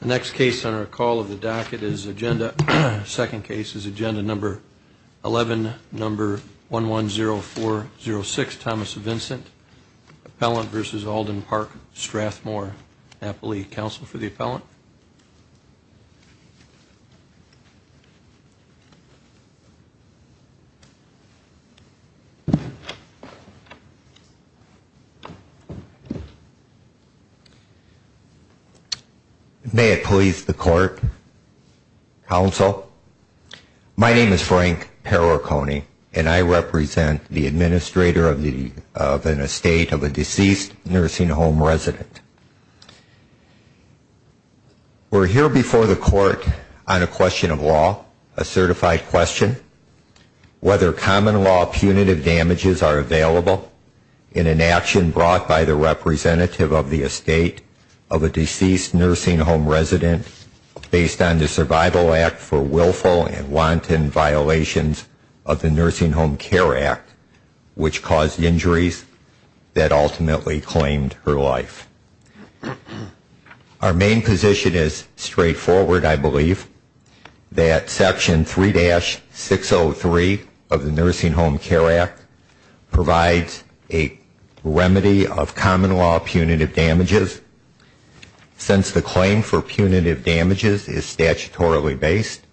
The next case on our call of the docket is Agenda, second case is Agenda number 11, number 110406, Thomas Vincent, Appellant v. Alden-Park Strathmoor, Napoli Council for the Appellant. May it please the court, counsel, my name is Frank Perricone and I represent the administrator of an estate of a deceased nursing home resident. We're here before the court on a question of law, a certified question, whether common law punitive damages are available in an action brought by the representative of the estate of a deceased nursing home resident based on the Survival Act for willful and wanton violations of the Nursing Home Care Act, which caused injuries that ultimately claimed her life. Our main position is straightforward, I believe, that Section 3-603 of the Nursing Home Care Act provides a remedy of common law punitive damages. Since the claim for punitive damages is statutorily based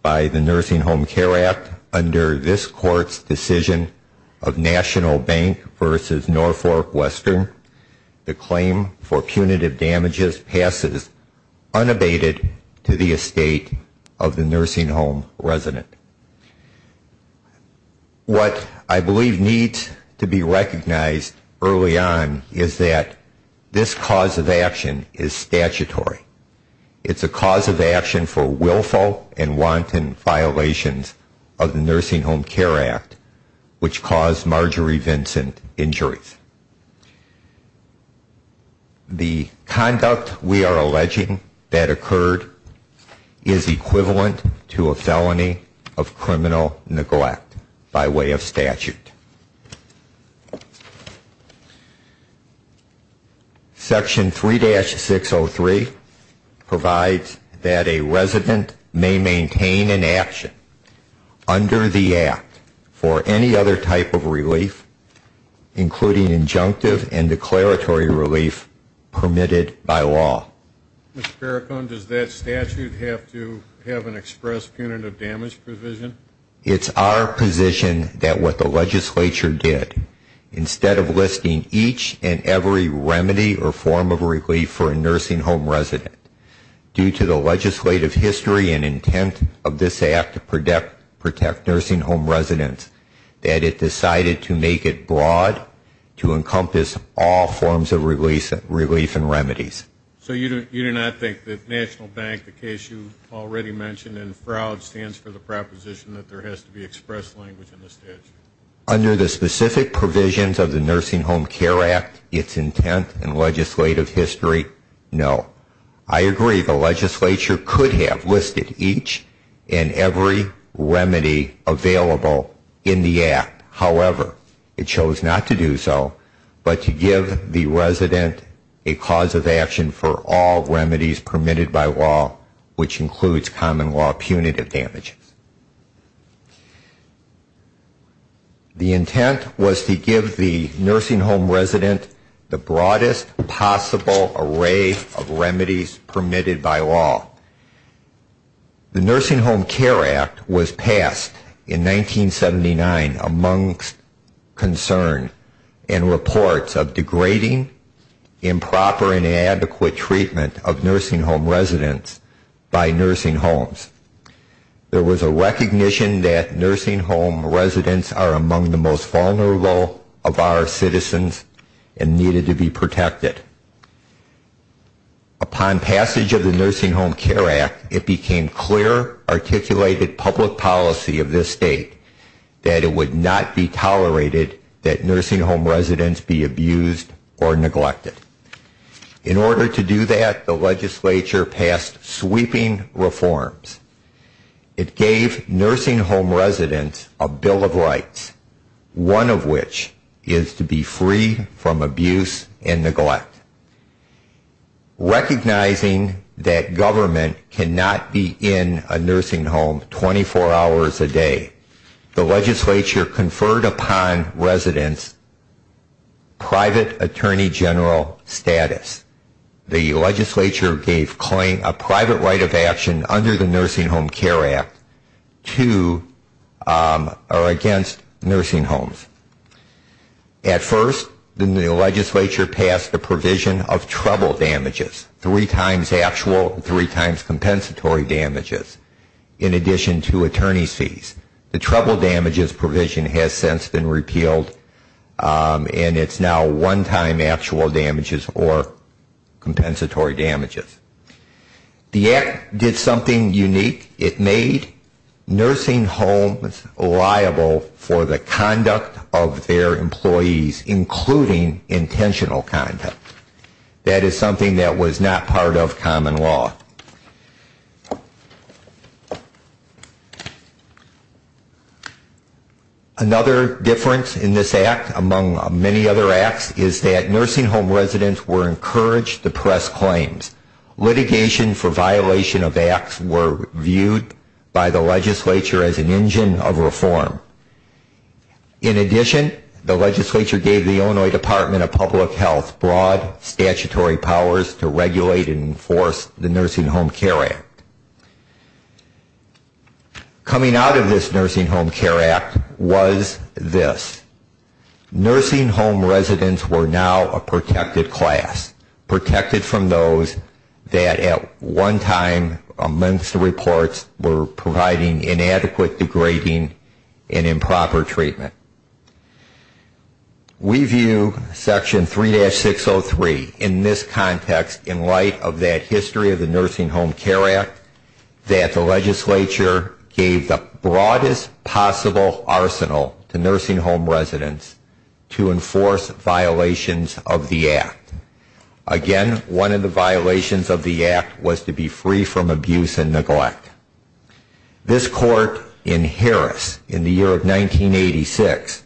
by the Nursing Home Care Act under this court's decision of National Bank v. Norfolk Western, the claim for punitive damages passes unabated to the estate of the nursing home resident. What I believe needs to be recognized early on is that this cause of action is statutory. It's a cause of action for willful and wanton violations of the Nursing Home Care Act, which caused Marjorie Vincent injuries. The conduct we are alleging that occurred is equivalent to a felony of criminal neglect by way of statute. Section 3-603 provides that a resident may maintain an action under the Act for any other type of relief, including injunctive and declaratory relief permitted by law. Mr. Perricone, does that statute have to have an express punitive damage provision? It's our position that what the legislature did, instead of listing each and every remedy or form of relief for a nursing home resident, due to the legislative history and intent of this Act to protect nursing home residents, that it decided to make it broad to encompass all forms of relief and remedies. So you do not think that National Bank, the case you already mentioned in Froud, stands for the proposition that there has to be express language in the statute? Under the specific provisions of the Nursing Home Care Act, its intent and legislative history, no. I agree the legislature could have listed each and every remedy available in the Act. The intent was to give the nursing home resident the broadest possible array of remedies permitted by law. The Nursing Home Care Act was passed in 1979 amongst concern and reports of degrading, improper and inadequate treatment of nursing home residents by nursing homes. There was a recognition that nursing home residents are among the most vulnerable of our citizens and needed to be protected. Upon passage of the Nursing Home Care Act, it became clear, articulated public policy of this state, that it would not be tolerated that nursing home residents be abused or neglected. In order to do that, the legislature passed sweeping reforms. It gave nursing home residents a Bill of Rights, one of which is to be free from abuse and neglect. Recognizing that government cannot be in a nursing home 24 hours a day, the legislature conferred upon residents private attorney general status. The legislature gave a private right of action under the Nursing Home Care Act against nursing homes. At first, the legislature passed the provision of treble damages, three times actual and three times compensatory damages, in addition to attorney's fees. The treble damages provision has since been repealed and it's now one-time actual damages or compensatory damages. The Act did something unique. It made nursing homes liable for the conduct of their employees, including intentional conduct. That is something that was not part of common law. Another difference in this act, among many other acts, is that nursing home residents were encouraged to press claims. Litigation for violation of acts were viewed by the legislature as an engine of reform. In addition, the legislature gave the Illinois Department of Public Health broad statutory powers to regulate and enforce the nursing home care act. Coming out of this nursing home care act was this. Nursing home residents were now a protected class, protected from those that at one time, amongst the reports, were providing inadequate, degrading, and improper treatment. We view section 3-603 in this context, in light of that history of the nursing home care act, that the legislature gave the broadest possible arsenal to nursing home residents to enforce violations of the act. Again, one of the violations of the act was to be free from abuse and neglect. This court in Harris, in the year of 1986,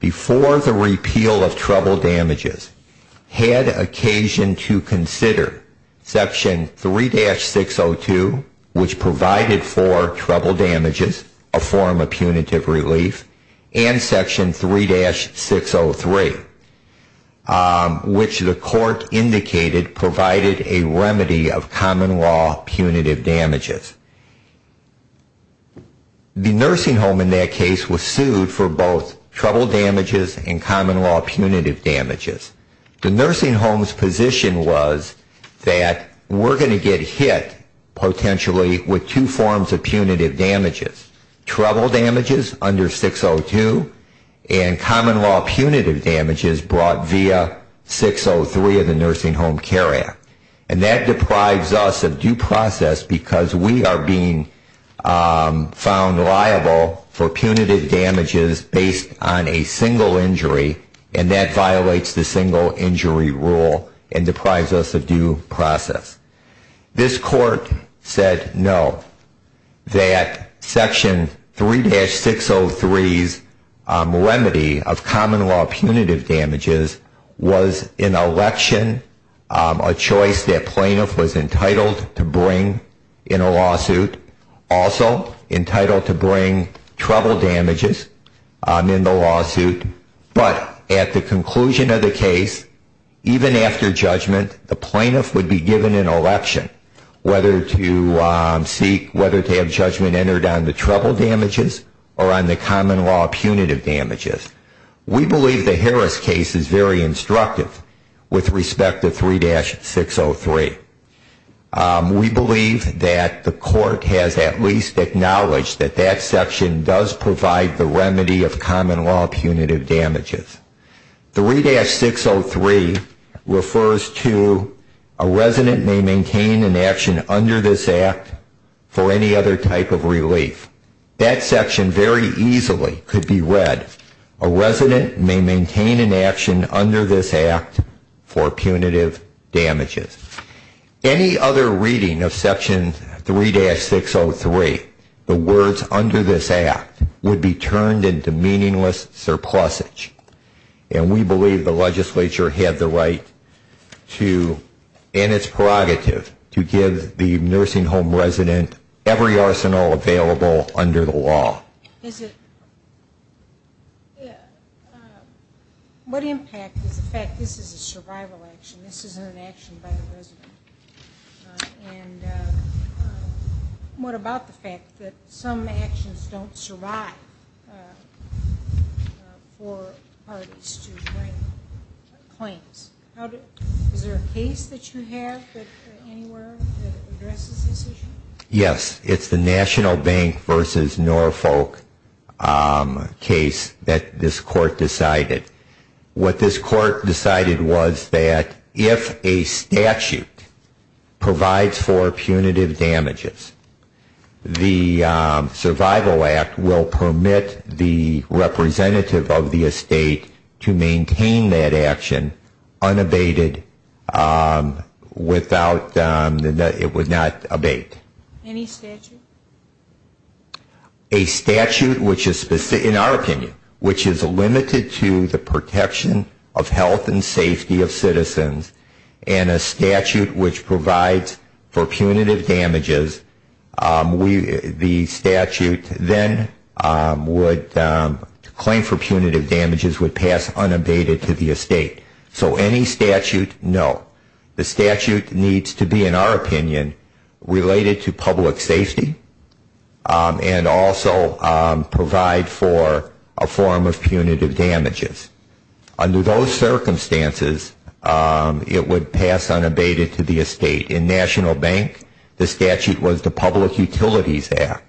before the repeal of trouble damages, had occasion to consider section 3-602, which provided for trouble damages, a form of punitive relief, and section 3-603, which the court indicated provided a remedy of common law punitive damages. The nursing home in that case was sued for both trouble damages and common law punitive damages. The nursing home's position was that we're going to get hit, potentially, with two forms of punitive damages. Trouble damages under 602, and common law punitive damages brought via 603 of the nursing home care act. And that deprives us of due process because we are being found liable for punitive damages based on a single injury, and that violates the single injury rule and deprives us of due process. This court said no, that section 3-603's remedy of common law punitive damages was an election, a choice that plaintiff was entitled to bring in a lawsuit, also entitled to bring trouble damages in the lawsuit, but at the conclusion of the case, even after judgment, the plaintiff would be given an election, whether to seek, whether to have judgment entered on the trouble damages or on the common law punitive damages. We believe the Harris case is very instructive with respect to 3-603. We believe that the court has at least acknowledged that that section does provide the remedy of common law punitive damages, 3-603 refers to a resident may maintain an action under this act for any other type of relief. That section very easily could be read, a resident may maintain an action under this act for punitive damages. Any other reading of section 3-603, the words under this act, would be turned into meaningless surpluses. And we believe the legislature had the right to, and it's prerogative, to give the nursing home resident every arsenal available under the law. What impact is the fact that this is a survival action, this isn't an action by the resident? And what about the fact that some actions don't survive for parties to bring claims? Is there a case that you have anywhere that addresses this issue? Yes, it's the National Bank v. Norfolk case that this court decided. What this court decided was that if a statute provides for punitive damages, the Survival Act will permit the representative of the estate to maintain that action unabated without, it would not abate. Any statute? No. The statute needs to be, in our opinion, related to public safety and also provide for a form of punitive damages. Under those circumstances, it would pass unabated to the estate. In National Bank, the statute was the Public Utilities Act,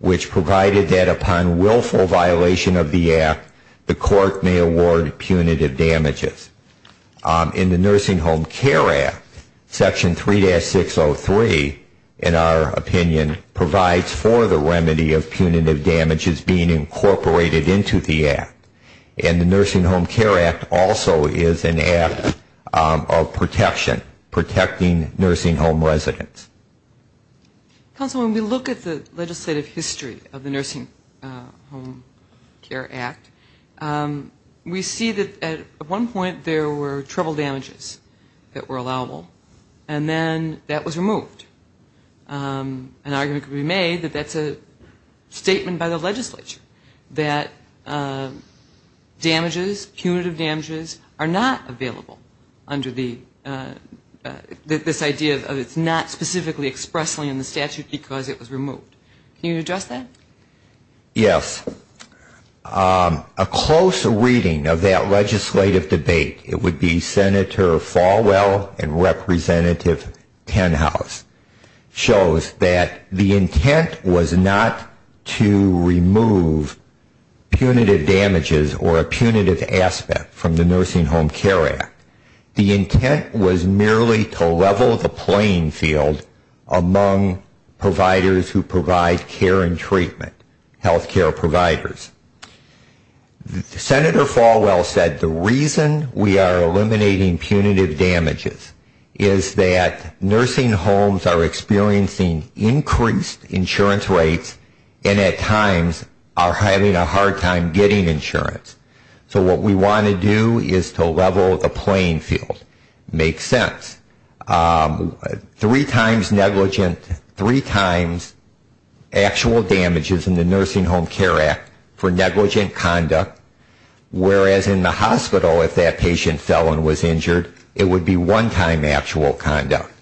which provided that upon willful violation of the act, the court may award punitive damages. In the Nursing Home Care Act, section 3-603, in our opinion, provides for the remedy of punitive damages being incorporated into the act. And the Nursing Home Care Act also is an act of protection, protecting nursing home residents. Counsel, when we look at the legislative history of the Nursing Home Care Act, we see that at one point there were trouble damages that were allowable, and then that was removed. An argument could be made that that's a statement by the legislature, that damages, punitive damages, are not available under the, this idea of it's not specifically expressly in the statute because it was removed. Can you address that? Yes. A close reading of that legislative debate, it would be Senator Falwell and Representative Tenhouse, shows that the intent was not to remove punitive damages or a punitive aspect from the Nursing Home Care Act. The intent was merely to level the playing field among providers who provide care and treatment. Healthcare providers. Senator Falwell said the reason we are eliminating punitive damages is that nursing homes are experiencing increased insurance rates and at times are having a hard time getting insurance. So what we want to do is to level the playing field. So I think that's a good argument. Makes sense. Three times negligent, three times actual damages in the Nursing Home Care Act for negligent conduct, whereas in the hospital if that patient fell and was injured, it would be one-time actual conduct.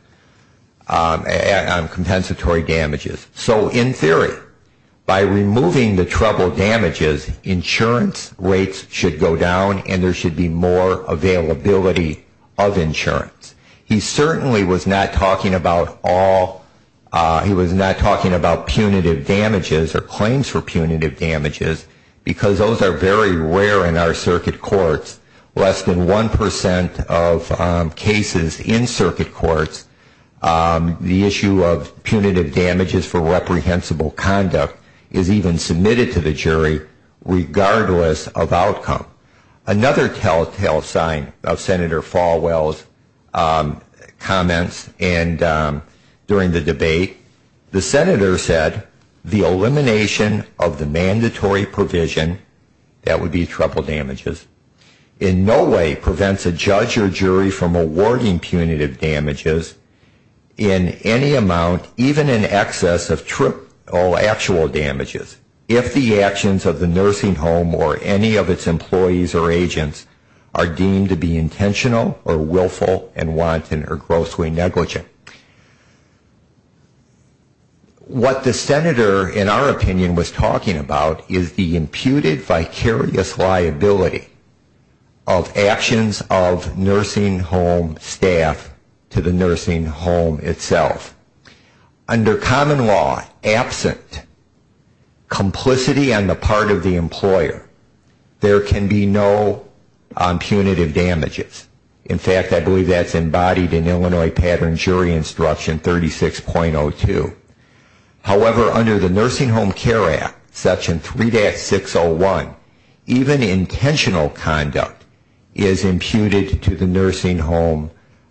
Compensatory damages. So in theory, by removing the trouble damages, insurance rates should go down and there should be more availability of insurance. He certainly was not talking about all, he was not talking about punitive damages or claims for punitive damages, because those are very rare in our circuit courts. Less than 1% of cases in circuit courts, the issue of punitive damages for negligent conduct is a rare one. And so negligent damages for reprehensible conduct is even submitted to the jury regardless of outcome. Another telltale sign of Senator Falwell's comments during the debate, the Senator said the elimination of the mandatory provision, that would be trouble damages, in no way prevents a judge or jury from awarding punitive damages in any amount, even in excess of a year. And that would be in excess of triple actual damages if the actions of the nursing home or any of its employees or agents are deemed to be intentional or willful and wanton or grossly negligent. What the Senator, in our opinion, was talking about is the imputed vicarious liability of actions of nursing home staff to the nursing home itself. And that is, if there is any law absent complicity on the part of the employer, there can be no punitive damages. In fact, I believe that is embodied in Illinois Pattern Jury Instruction 36.02. However, under the Nursing Home Care Act, Section 3-601, even intentional conduct is imputed to the nursing home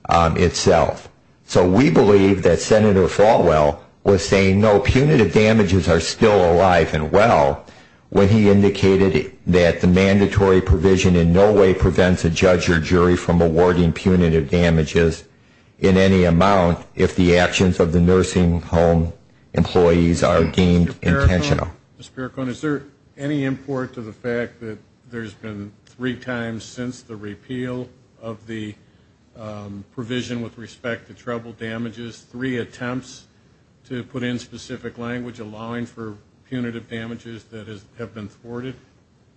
itself. So we believe that Senator Falwell was saying, no, punitive damages are still alive and well, when he indicated that the mandatory provision in no way prevents a judge or jury from awarding punitive damages in any amount if the actions of the nursing home employees are deemed intentional. Mr. Pericone, is there any import to the fact that there has been three times since the repeal of the provision with respect to treble damages, three attempts to put in specific language allowing for punitive damages that have been thwarted?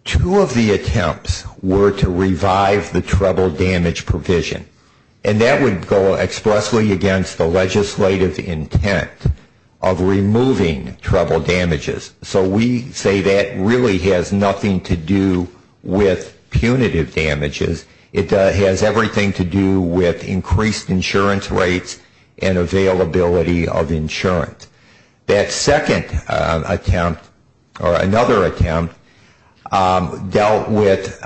Two of the attempts were to revive the treble damage provision. And that would go expressly against the legislative intent of removing treble damages. So we say that really has nothing to do with punitive damages. It has everything to do with increased insurance rates and availability of insurance. That second attempt, or another attempt, dealt with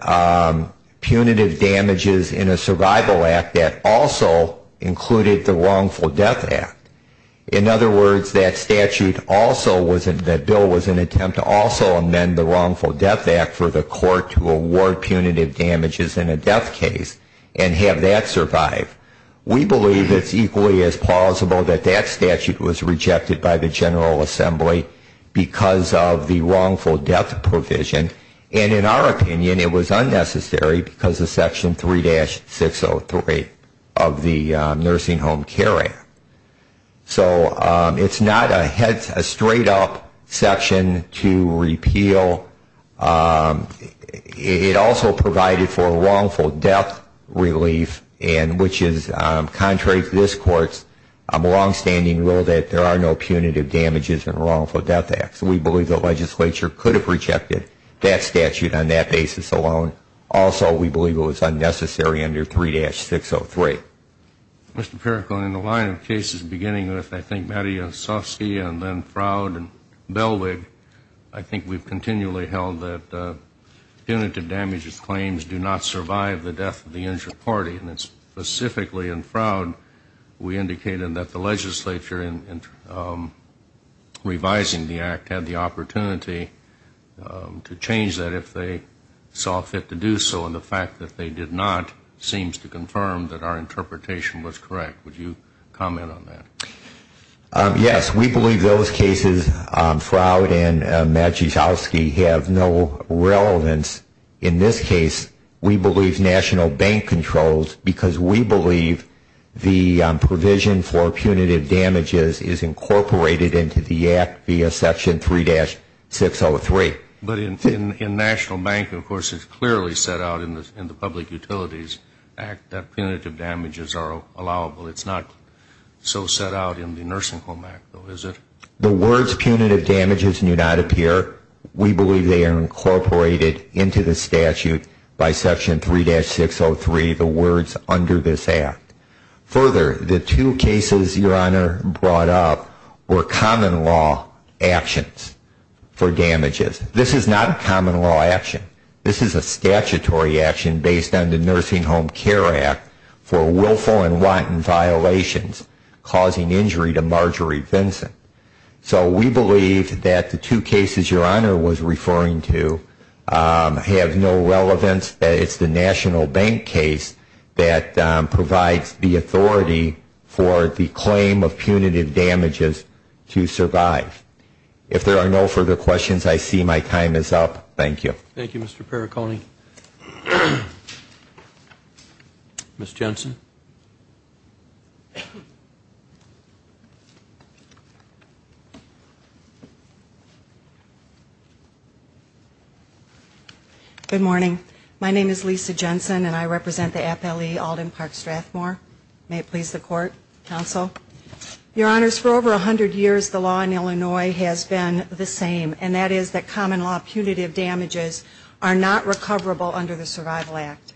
punitive damages in a survival act that also included the wrongful death act. In other words, that statute also, that bill was an attempt to also amend the wrongful death act for the court to award punitive damages in a death case and have that survive. We believe it's equally as plausible that that statute was rejected by the General Assembly because of the wrongful death provision. And in our opinion, it was unnecessary because of Section 3-603 of the Nursing Home Care Act. So it's not a straight-up section to repeal. It also provided for wrongful death relief, which is contrary to this Court's longstanding rule that there are no punitive damages in a wrongful death act. So we believe the legislature could have rejected that statute on that basis alone. Also, we believe it was unnecessary under 3-603. Mr. Perrico, in the line of cases beginning with, I think, Mattie Ossofsky and then Froud and Belwig, I think we've continually held that punitive damages claims do not survive the death of the injured party. And it's specifically in Froud we indicated that the legislature, in revising the act, had the opportunity to change that if they saw fit to do so. And the fact that they did not seems to confirm that our interpretation was correct. Would you comment on that? Yes, we believe those cases, Froud and Mattie Ossofsky, have no relevance. In this case, we believe National Bank controls because we believe the provision for punitive damages is incorporated into the act via Section 3-603. But in National Bank, of course, it's clearly set out in the Public Utilities Act that punitive damages are allowable. It's not so set out in the Nursing Home Act, though, is it? The words punitive damages do not appear. We believe they are incorporated into the statute by Section 3-603, the words under this act. Further, the two cases Your Honor brought up were common law actions for damages. This is not a common law action. This is a statutory action based on the Nursing Home Care Act for willful and wanton violations causing injury to Marjorie Vinson. So we believe that the two cases Your Honor was referring to have no relevance, that it's the National Bank case that provides the authority for the claim of punitive damages to survive. If there are no further questions, I see my time is up. Thank you. Thank you, Mr. Perricone. Ms. Jensen. Good morning. My name is Lisa Jensen, and I represent the APLE Alden Park Strathmore. May it please the Court, Counsel. Your Honors, for over 100 years, the law in Illinois has been the same, and that is that common law punitive damages are not recoverable under the Survival Act.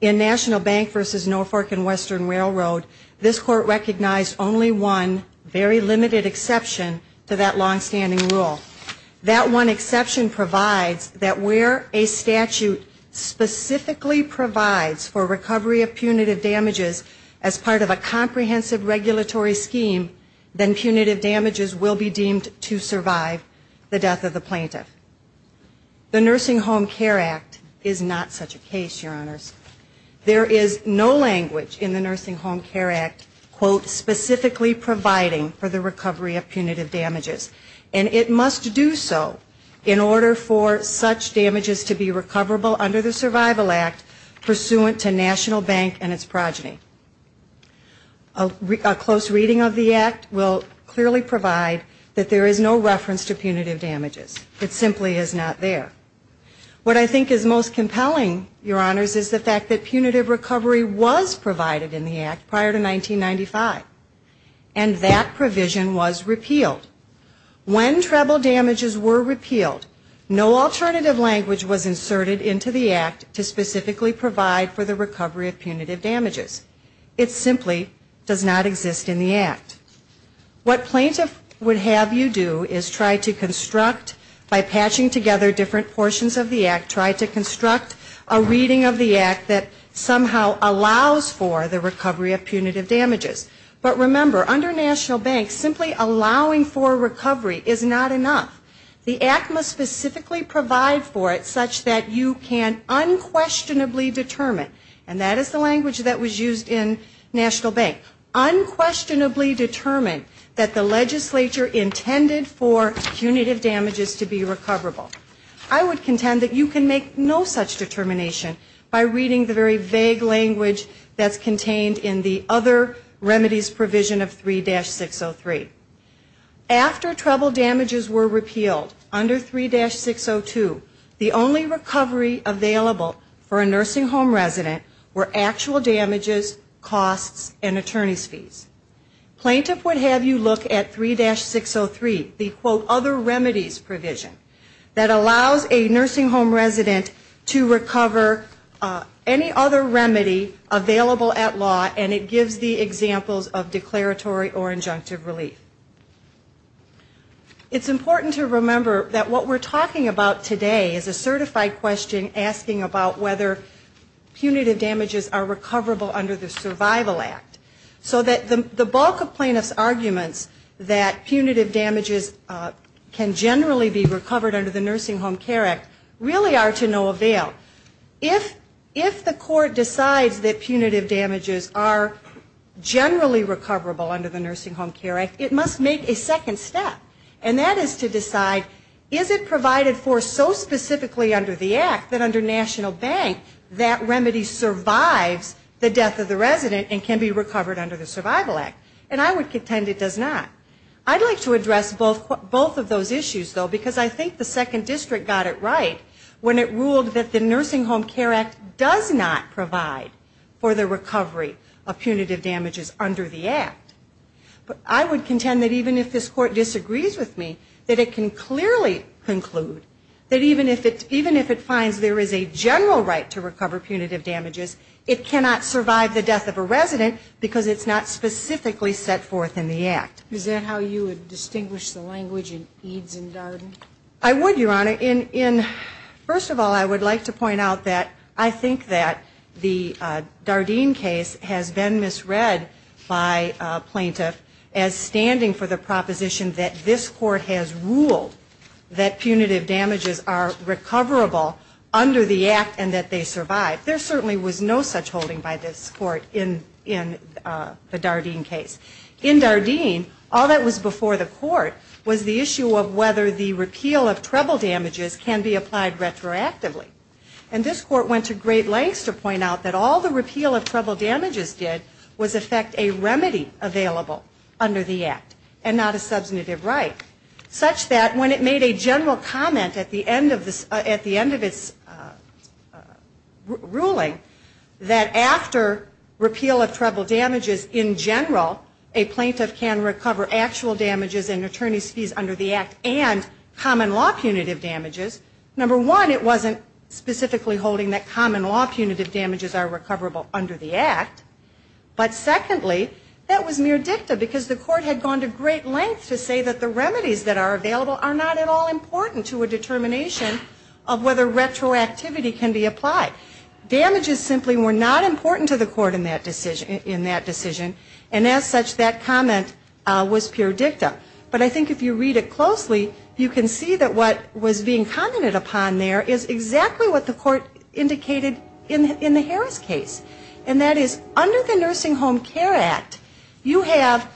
In National Bank v. Norfolk and Western Railroad, this Court recognized only one very limited exception to that longstanding rule. That one exception provides that where a statute specifically provides for recovery of punitive damages as part of a comprehensive regulatory framework, the punitive damages will be deemed to survive the death of the plaintiff. The Nursing Home Care Act is not such a case, Your Honors. There is no language in the Nursing Home Care Act, quote, specifically providing for the recovery of punitive damages, and it must do so in order for such damages to be recoverable under the Survival Act pursuant to National Bank and its progeny. A closer look at the NHCA, which is the National Bank of Illinois National Bank of Illinois, and a close reading of the Act will clearly provide that there is no reference to punitive damages. It simply is not there. What I think is most compelling, Your Honors, is the fact that punitive recovery was provided in the Act prior to 1995, and that provision was repealed. When treble damages were repealed, no alternative language was inserted into the Act to specifically provide for the recovery of punitive damages. It simply does not exist in the Act. What plaintiff would have you do is try to construct, by patching together different portions of the Act, try to construct a reading of the Act that somehow allows for the recovery of punitive damages. But remember, under National Bank, simply allowing for recovery is not enough. The Act must specifically provide for it such that you can unquestionably determine, and that is the language that is used in the Act, that there is no alternative language that was used in National Bank, unquestionably determine that the legislature intended for punitive damages to be recoverable. I would contend that you can make no such determination by reading the very vague language that's contained in the other remedies provision of 3-603. After treble damages were repealed under 3-602, the only recovery available for a nursing home resident were actual damages costs and attorney's fees. Plaintiff would have you look at 3-603, the quote other remedies provision, that allows a nursing home resident to recover any other remedy available at law, and it gives the examples of declaratory or injunctive relief. It's important to remember that what we're talking about today is a certified question asking about whether punitive damages are recoverable under the Survival Act. So that the bulk of plaintiff's arguments that punitive damages can generally be recovered under the Nursing Home Care Act really are to no avail. If the court decides that punitive damages are generally recoverable under the Nursing Home Care Act, it must make a second step. And that is to decide, is it provided for so specifically under the Act that under National Bank, that punitive damages can be recovered under the Survival Act. And I would contend it does not. I'd like to address both of those issues, though, because I think the second district got it right when it ruled that the Nursing Home Care Act does not provide for the recovery of punitive damages under the Act. But I would contend that even if this court disagrees with me, that it can clearly conclude that even if it finds there is a general right to recover punitive damages, it cannot survive the death of a resident because it's not specifically set forth in the Act. Is that how you would distinguish the language in EADS and DARDEN? I would, Your Honor. First of all, I would like to point out that I think that the DARDEN case has been misread by a plaintiff as standing for the proposition that this court has ruled that punitive damages are recoverable under the Survival Act. And I think that that's a good point. And I would like to point out that under the Act and that they survive, there certainly was no such holding by this court in the DARDEN case. In DARDEN, all that was before the court was the issue of whether the repeal of treble damages can be applied retroactively. And this court went to great lengths to point out that all the repeal of treble damages did was affect a remedy available under the Act and not a substantive right, such that when it made a general comment at the end of its, at the end of its, its ruling, that after repeal of treble damages in general, a plaintiff can recover actual damages in attorney's fees under the Act and common law punitive damages. Number one, it wasn't specifically holding that common law punitive damages are recoverable under the Act. But secondly, that was mere dicta because the court had gone to great lengths to say that the remedies that are available are not at all punishable under the Act and that a remedy can be applied. Damages simply were not important to the court in that decision. And as such, that comment was pure dicta. But I think if you read it closely, you can see that what was being commented upon there is exactly what the court indicated in the Harris case. And that is under the Nursing Home Care Act, you have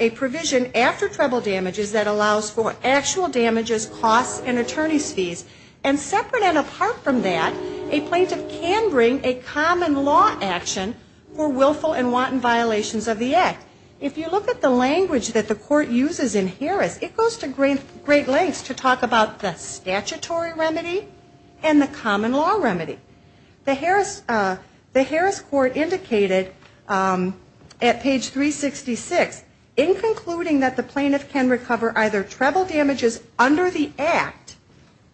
a provision after treble damages that allows for actual damages, costs and attorney's fees. And separate and apart from that, you have a provision after treble damages that allows for actual damages. And separate and apart from that, a plaintiff can bring a common law action for willful and wanton violations of the Act. If you look at the language that the court uses in Harris, it goes to great lengths to talk about the statutory remedy and the common law remedy. The Harris, the Harris court indicated at page 366 in concluding that the plaintiff can recover either treble damages under the Act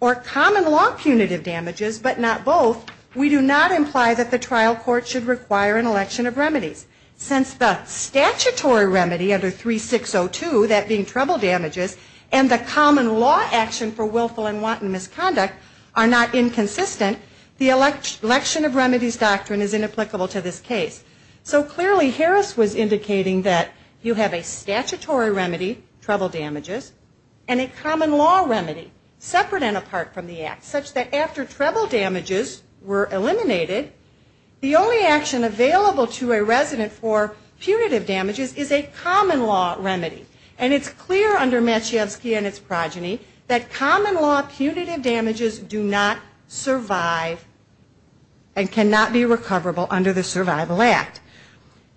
or common law punitive damages, but not both, we do not imply that the trial court should require an election of remedies. Since the statutory remedy under 3602, that being treble damages, and the common law action for willful and wanton misconduct are not inconsistent, the election of remedies doctrine is inapplicable to this case. So clearly Harris was indicating that you have a statutory remedy, treble damages, and a common law remedy separate and apart from the Act, such that after treble damages were eliminated, the only action available to a resident for punitive damages is a common law remedy. And it's clear under Matschevsky and its progeny that common law punitive damages do not survive and cannot be recoverable under the Survival Act.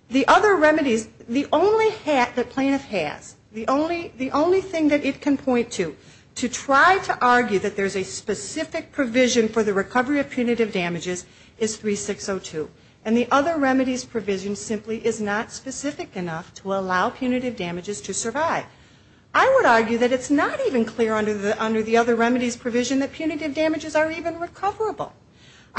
The other remedies, the only hat that plaintiff has, the only thing that it can point to to try to argue that there's a specific provision for the recovery of punitive damages is 3602. And the other remedies provision simply is not specific enough to allow punitive damages to survive. I would argue that it's not even clear under the other remedies provision that punitive damages are even recoverable.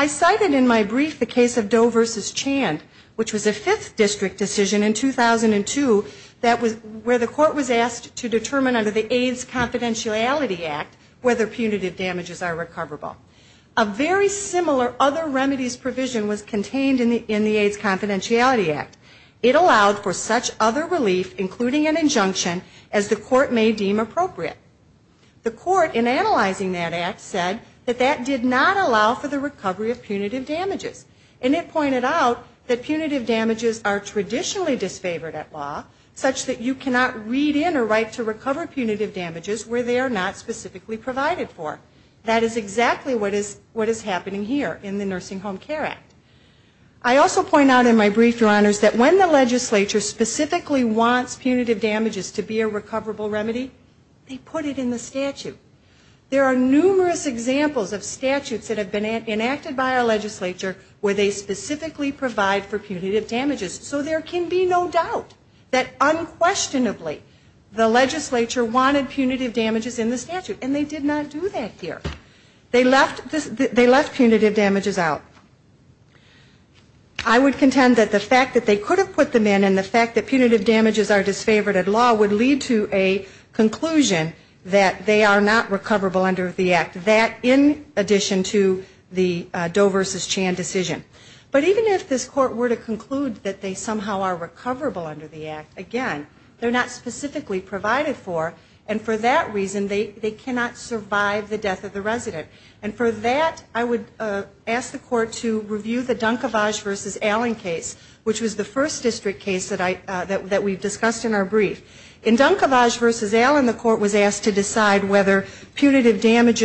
So in the case of the Hamiltons Chand, which was a 5th district decision in 2002 where the court was asked to determine under the AIDS Confidentiality Act whether punitive damages are recoverable, a very similar other remedies provision was contained in the AIDS Confidentiality Act. It allowed for such other relief, including an injunction, as the court may deem appropriate. The court in analyzing that Act said that that did not allow for the recovery of punitive damages. And it pointed out that the only way to recover punitive damages is to provide a remedy. It pointed out that punitive damages are traditionally disfavored at law, such that you cannot read in or write to recover punitive damages where they are not specifically provided for. That is exactly what is happening here in the Nursing Home Care Act. I also point out in my brief, Your Honors, that when the legislature specifically wants punitive damages to be a recoverable remedy, they put it in the statute. There are numerous examples of statutes that have been enacted by our courts that provide for punitive damages. So there can be no doubt that unquestionably the legislature wanted punitive damages in the statute. And they did not do that here. They left punitive damages out. I would contend that the fact that they could have put them in and the fact that punitive damages are disfavored at law would lead to a conclusion that they are not recoverable under the Act. That, in addition to the Doe v. Chan decision. But even if this Court were to conclude that they somehow are recoverable under the Act, again, they are not specifically provided for. And for that reason, they cannot survive the death of the resident. And for that, I would ask the Court to review the Dunkevage v. Allen case, which was the first district case that we discussed in our brief. In Dunkevage v. Allen, they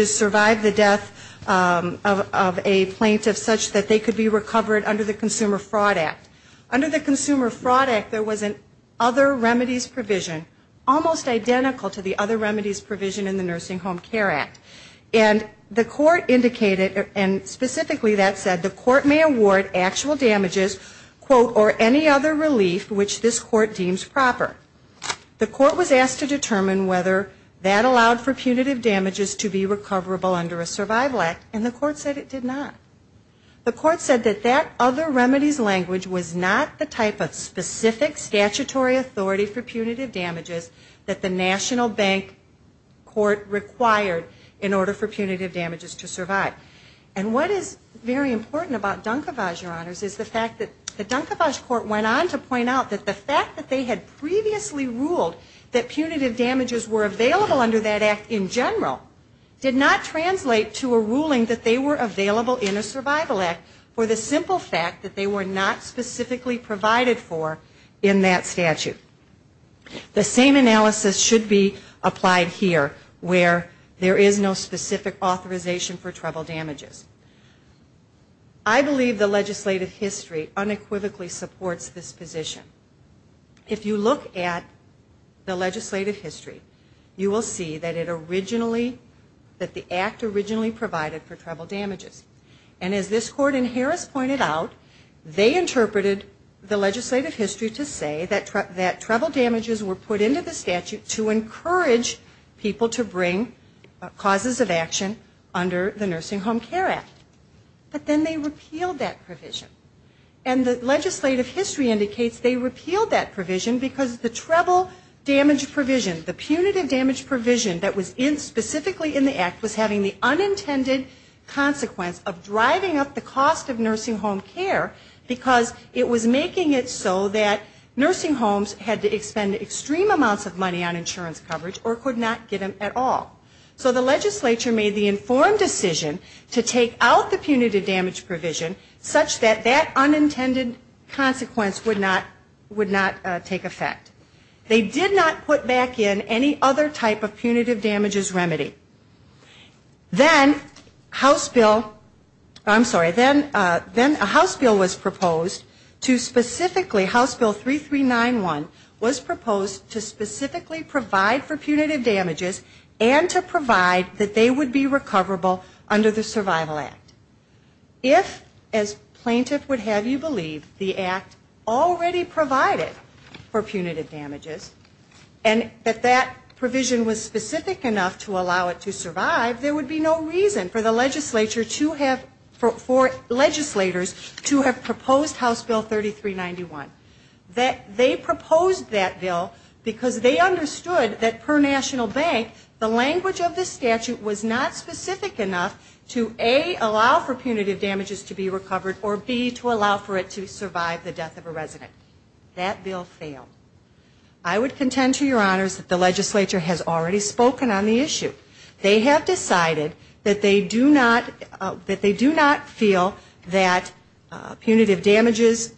survived the death of a plaintiff such that they could be recovered under the Consumer Fraud Act. Under the Consumer Fraud Act, there was an other remedies provision, almost identical to the other remedies provision in the Nursing Home Care Act. And the Court indicated, and specifically that said, the Court may award actual damages, quote, or any other relief which this Court deems proper. The other remedies language was not the type of specific statutory authority for punitive damages that the National Bank Court required in order for punitive damages to survive. And what is very important about Dunkevage, Your Honors, is the fact that the Dunkevage Court went on to point out that the fact that they had previously ruled that punitive damages were available under that Act in general, did not translate to a ruling that they were available in a Survival Act for the simple fact that they were not specifically provided for in that statute. The same analysis should be applied here, where there is no specific authorization for trouble damages. I believe the legislative history unequivocally supports this position. If you look at the legislative history, you will see that it originally, that the Act originally provided for trouble damages. And as this Court in Harris pointed out, they interpreted the legislative history to say that trouble damages were put into the statute to encourage people to bring causes of action under the Nursing Home Care Act. But then they repealed that provision. And the legislative history indicates they repealed that provision because the trouble damage provision, the punitive damage provision, was having the unintended consequence of driving up the cost of nursing home care because it was making it so that nursing homes had to expend extreme amounts of money on insurance coverage or could not get it at all. So the legislature made the informed decision to take out the punitive damage provision such that that unintended consequence would not take effect. They did not put back in any other type of punitive damages remedy. Then House Bill, I'm sorry, then House Bill was proposed to specifically, House Bill 3391, was proposed to specifically provide for punitive damages and to provide that they would be recoverable under the Survival Act. If, as plaintiff would have you believe, the Act already provided for punitive damages, and if they were not confident that that provision was specific enough to allow it to survive, there would be no reason for the legislature to have, for legislators to have proposed House Bill 3391. They proposed that bill because they understood that per national bank, the language of the statute was not specific enough to, A, allow for punitive damages to be recovered or, B, to allow for it to survive the death of a plaintiff. This act has been in place for a number of years. The legislature has already spoken on the issue. They have decided that they do not feel that punitive damages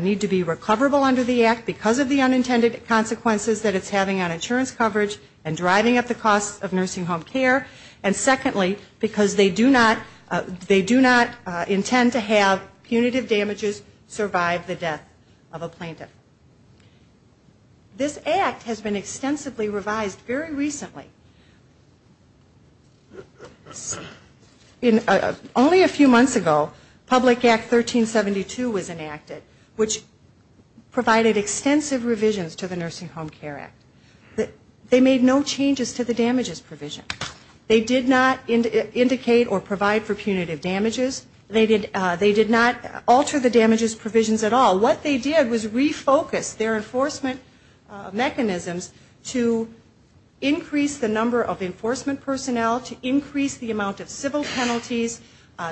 need to be recoverable under the Act because of the unintended consequences that it's having on insurance coverage and driving up the costs of nursing home care, and secondly, because they do not intend to have punitive damages survive the death of a plaintiff. This Act has been extensively revised very recently. Only a few months ago, Public Act 1372 was enacted, which provided extensive revisions to the Nursing Home Care Act. They made no changes to the damages provision. They did not make any changes to the damages provisions at all. What they did was refocus their enforcement mechanisms to increase the number of enforcement personnel, to increase the amount of civil penalties,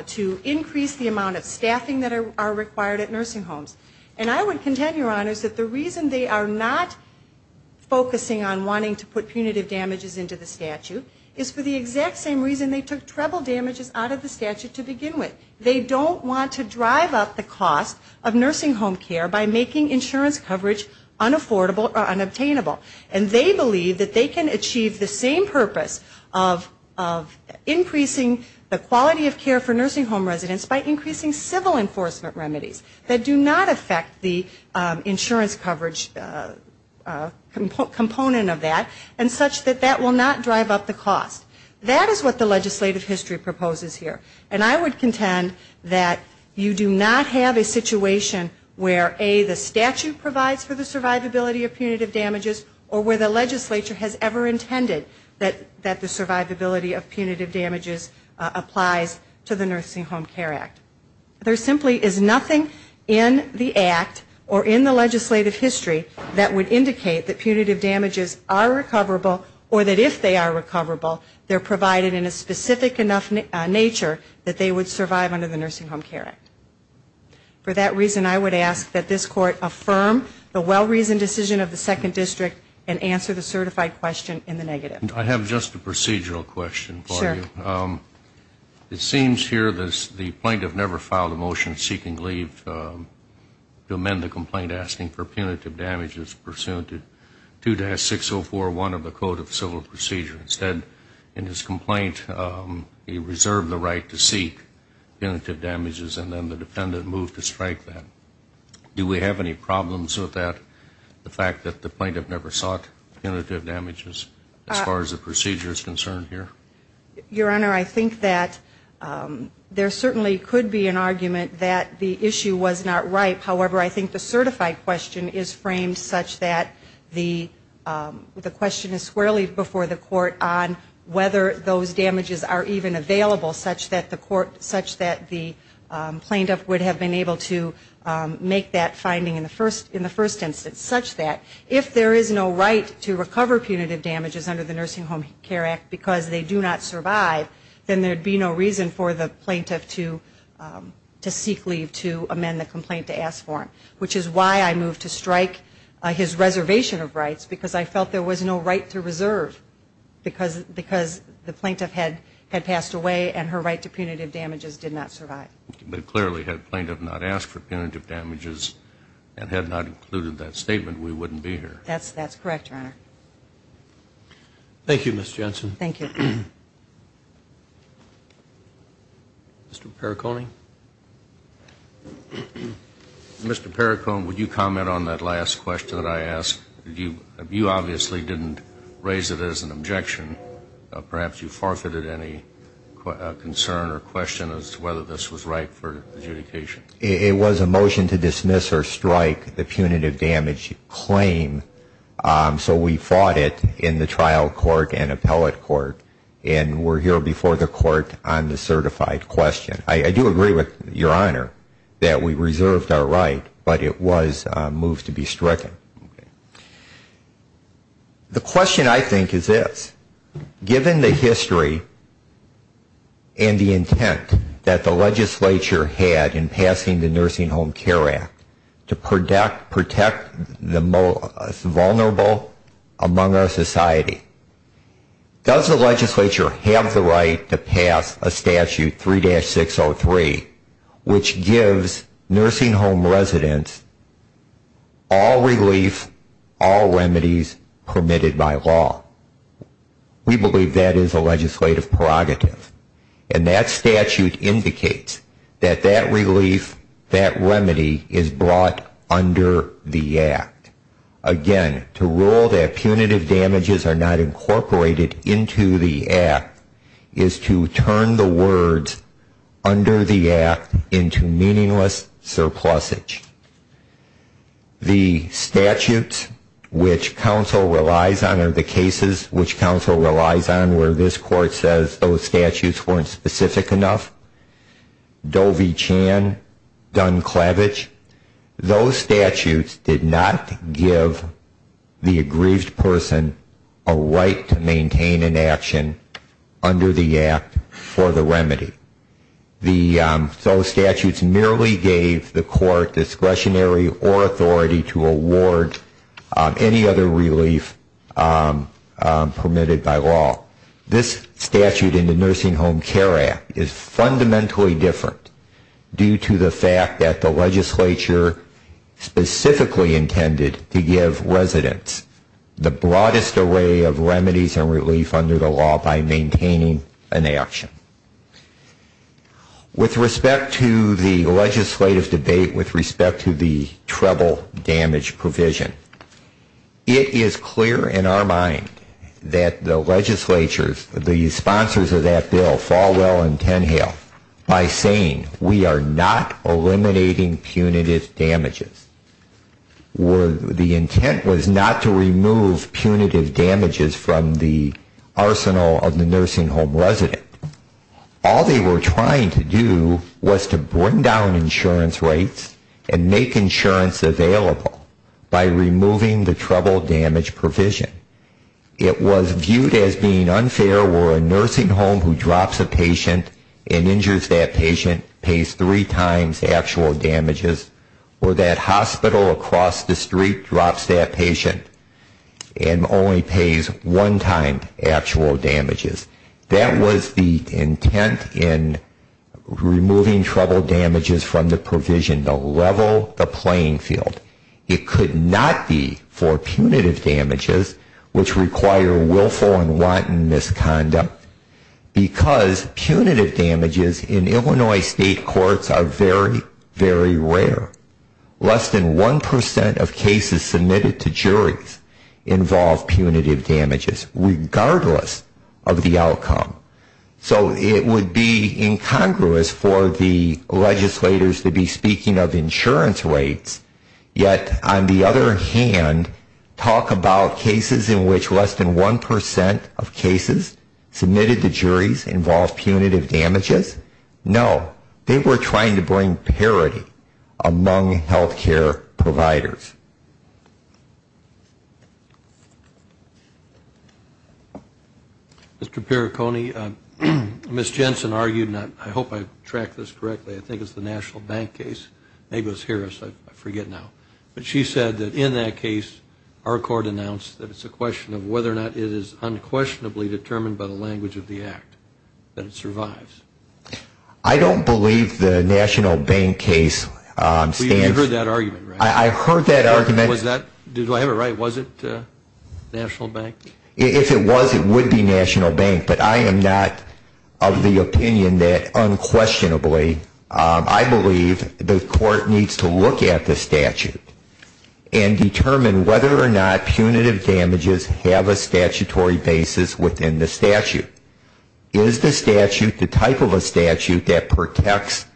to increase the amount of staffing that are required at nursing homes. And I would contend, Your Honors, that the reason they are not focusing on wanting to put punitive damages into the statute is for the exact same reason they took treble damages out of the statute to begin with. They don't want to drive up the cost of nursing home care by making insurance coverage unaffordable or unobtainable. And they believe that they can achieve the same purpose of increasing the quality of care for nursing home residents by increasing civil enforcement remedies that do not affect the insurance coverage component of that, and such that that will not drive up the cost. That is what the legislative history proposes here. And I would contend that you do not have a situation where, A, the statute provides for the survivability of punitive damages, or where the legislature has ever intended that the survivability of punitive damages applies to the Nursing Home Care Act. There simply is nothing in the Act or in the legislative history that would indicate that punitive damages are of a certain nature that they would survive under the Nursing Home Care Act. For that reason, I would ask that this Court affirm the well-reasoned decision of the Second District and answer the certified question in the negative. I have just a procedural question for you. Sure. It seems here that the plaintiff never filed a motion seeking leave to amend the complaint asking for punitive damages pursuant to 2-6041 of the Code of Civil Procedure. Instead, in his complaint, he resigned and served the right to seek punitive damages, and then the defendant moved to strike that. Do we have any problems with that, the fact that the plaintiff never sought punitive damages as far as the procedure is concerned here? Your Honor, I think that there certainly could be an argument that the issue was not right. However, I think the certified question is framed such that the question is squarely before the Court on whether those damages are even available, and whether they are available such that the plaintiff would have been able to make that finding in the first instance such that if there is no right to recover punitive damages under the Nursing Home Care Act because they do not survive, then there would be no reason for the plaintiff to seek leave to amend the complaint to ask for it, which is why I moved to strike his reservation of rights, because I felt there was no right to reserve because the plaintiff had passed away and her right to punitive damages did not survive. But clearly, had the plaintiff not asked for punitive damages and had not included that statement, we wouldn't be here. That's correct, Your Honor. Thank you, Ms. Jensen. Mr. Perricone. Mr. Perricone, would you comment on that last question that I asked? You obviously didn't raise it as an objection. Perhaps you forfeited any concern or question as to whether this was right for adjudication. It was a motion to dismiss or strike the punitive damage claim, so we fought it in the trial court and appellate court. And we're here before the court on the certified question. I do agree with Your Honor that we reserved our right, but it was moved to be stricken. The question, I think, is this. Given the history and the intent that the legislature had in passing the Nursing Home Care Act to protect the most vulnerable among our society, does the legislature have any intention of passing the Nursing Home Care Act to protect the most vulnerable among our society? Does the legislature have the right to pass a statute, 3-603, which gives nursing home residents all relief, all remedies permitted by law? We believe that is a legislative prerogative. And that statute indicates that that relief, that remedy is brought under the Act. Again, to rule that punitive damages are not incorporated into the Act is to turn the words under the Act into meaningless surplusage. The statutes which counsel relies on are the cases which counsel relies on where this court says those statutes weren't specific enough. Dovie Chan, Dunclavage, those statutes did not give the aggrieved person a right to maintain an action. Under the Act for the remedy. So the statutes merely gave the court discretionary or authority to award any other relief permitted by law. This statute in the Nursing Home Care Act is fundamentally different due to the fact that the legislature specifically intended to give residents the broadest array of remedies and relief under the law. By maintaining an action. With respect to the legislative debate, with respect to the treble damage provision, it is clear in our mind that the legislatures, the sponsors of that bill, fall well and ten hail by saying we are not eliminating punitive damages. The intent was not to remove punitive damages from the arsenal of the nursing home resident. All they were trying to do was to bring down insurance rates and make insurance available by removing the treble damage provision. It was viewed as being unfair where a nursing home who drops a patient and injures that patient pays three times actual damages or that hospital across the street drops that patient and only pays one time actual damages. That was the intent in removing treble damages from the provision. The level, the playing field. It could not be for punitive damages which require willful and wanton misconduct because punitive damages in Illinois state courts are very, very rare. Let's take a look at the state court where less than 1% of cases submitted to juries involve punitive damages regardless of the outcome. So it would be incongruous for the legislators to be speaking of insurance rates, yet on the other hand talk about cases in which less than 1% of cases submitted to juries involve punitive damages? No. They were trying to bring parity among healthcare providers. Mr. Perricone, Ms. Jensen argued, I hope I've tracked this correctly, I think it's the National Bank case, I forget now, but she said that in that case our court announced that it's a question of whether or not it is unquestionably determined by the language of the act that it survives. I don't believe the National Bank case stands. You heard that argument, right? I heard that argument. Do I have it right? Was it National Bank? If it was, it would be National Bank, but I am not of the opinion that unquestionably I believe the court needs to look at the statute and determine whether or not punitive damages have a statutory basis within the statute. Is the statute the type of statute that protects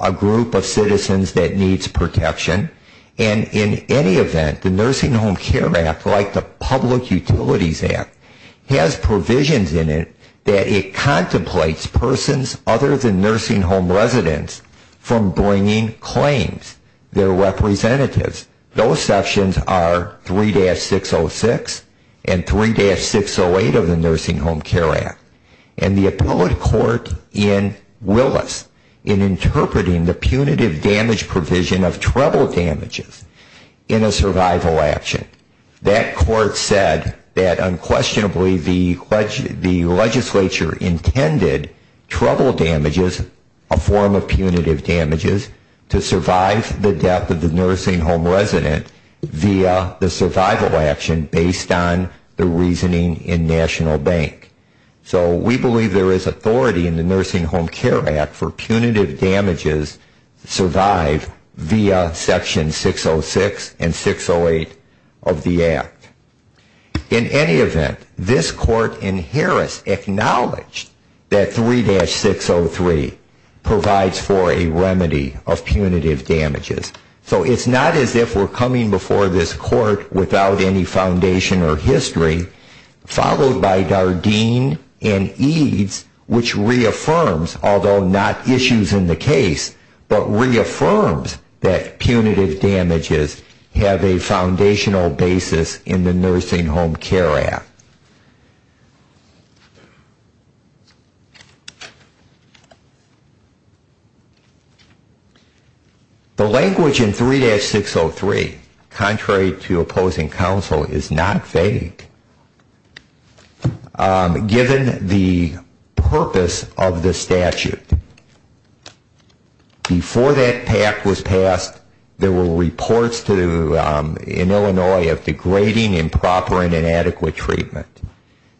a group of citizens that needs protection? And in any event, the Nursing Home Care Act, like the Public Utilities Act, has provisions in it that it contemplates persons other than nursing home residents from bringing claims. They're representatives. Those sections are 3-606 and 3-608 of the Nursing Home Care Act. And the appellate court in Willis in interpreting the punitive damage provision of trouble damages in a survival action, that court said that unquestionably the legislature intended trouble damages, a form of punitive damages, to survive the death of the nursing home resident via the survival action based on the reasoning in National Bank. So we believe there is authority in the Nursing Home Care Act for punitive damages to survive via section 606 and 608 of the act. In any event, this court in Harris acknowledged that 3-603 provides for a remedy of punitive damages. So it's not as if we're coming before this court without any foundation or history, followed by Dardenne, and then the court in Harris in interpreting the punitive damages provision of pain and eads, which reaffirms, although not issues in the case, but reaffirms that punitive damages have a foundational basis in the Nursing Home Care Act. The language in 3-603, contrary to opposing counsel, is not vague. Given the purpose of the statute, before that pact was passed, there were reports in Illinois of degrading, improper, and unethical treatment.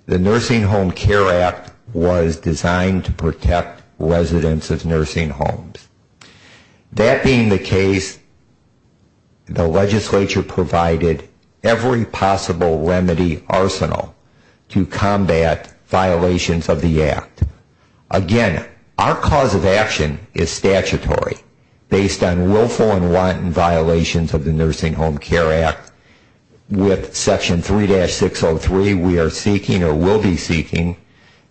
The Nursing Home Care Act was designed to protect residents of nursing homes. That being the case, the legislature provided every possible remedy arsenal to combat violations of the act. Again, our cause of action is statutory, based on willful and wanton violations of the Nursing Home Care Act with section 3-603, we are seeking, or will be seeking,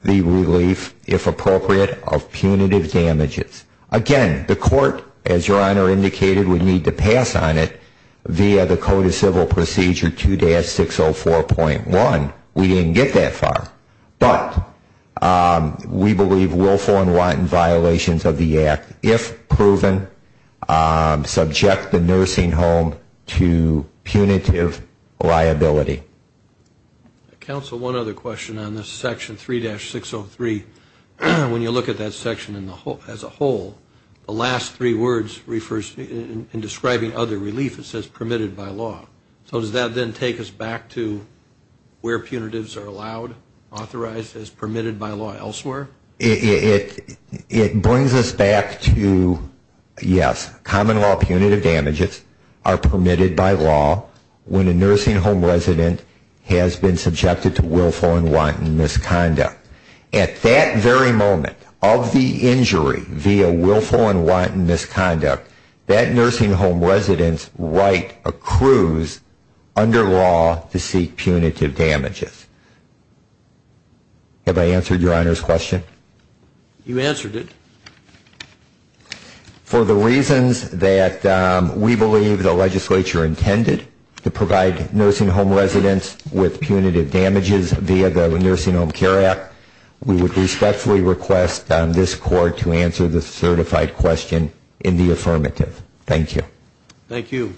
the relief, if appropriate, of punitive damages. Again, the court, as your Honor indicated, would need to pass on it via the Code of Civil Procedure 2-604.1. We didn't get that far, but we believe willful and wanton violations of the act, if proven, subject the nursing home to punitive liability. Counsel, one other question on this section 3-603. When you look at that section as a whole, the last three words refer to, in describing other relief, it says permitted by law. So does that then take us back to where punitives are allowed, authorized as permitted by law elsewhere? It brings us back to, yes, common law punitive damages are permitted by law when a nursing home resident has been subjected to a willful and wanton misconduct. At that very moment of the injury via willful and wanton misconduct, that nursing home resident's right accrues under law to seek punitive damages. Have I answered your Honor's question? You answered it. For the reasons that we believe the legislature intended to provide nursing home residents with punitive damages via the Nursing Home Care Act, we would respectfully request this Court to answer the certified question in the affirmative. Thank you. Thank you. Thank you.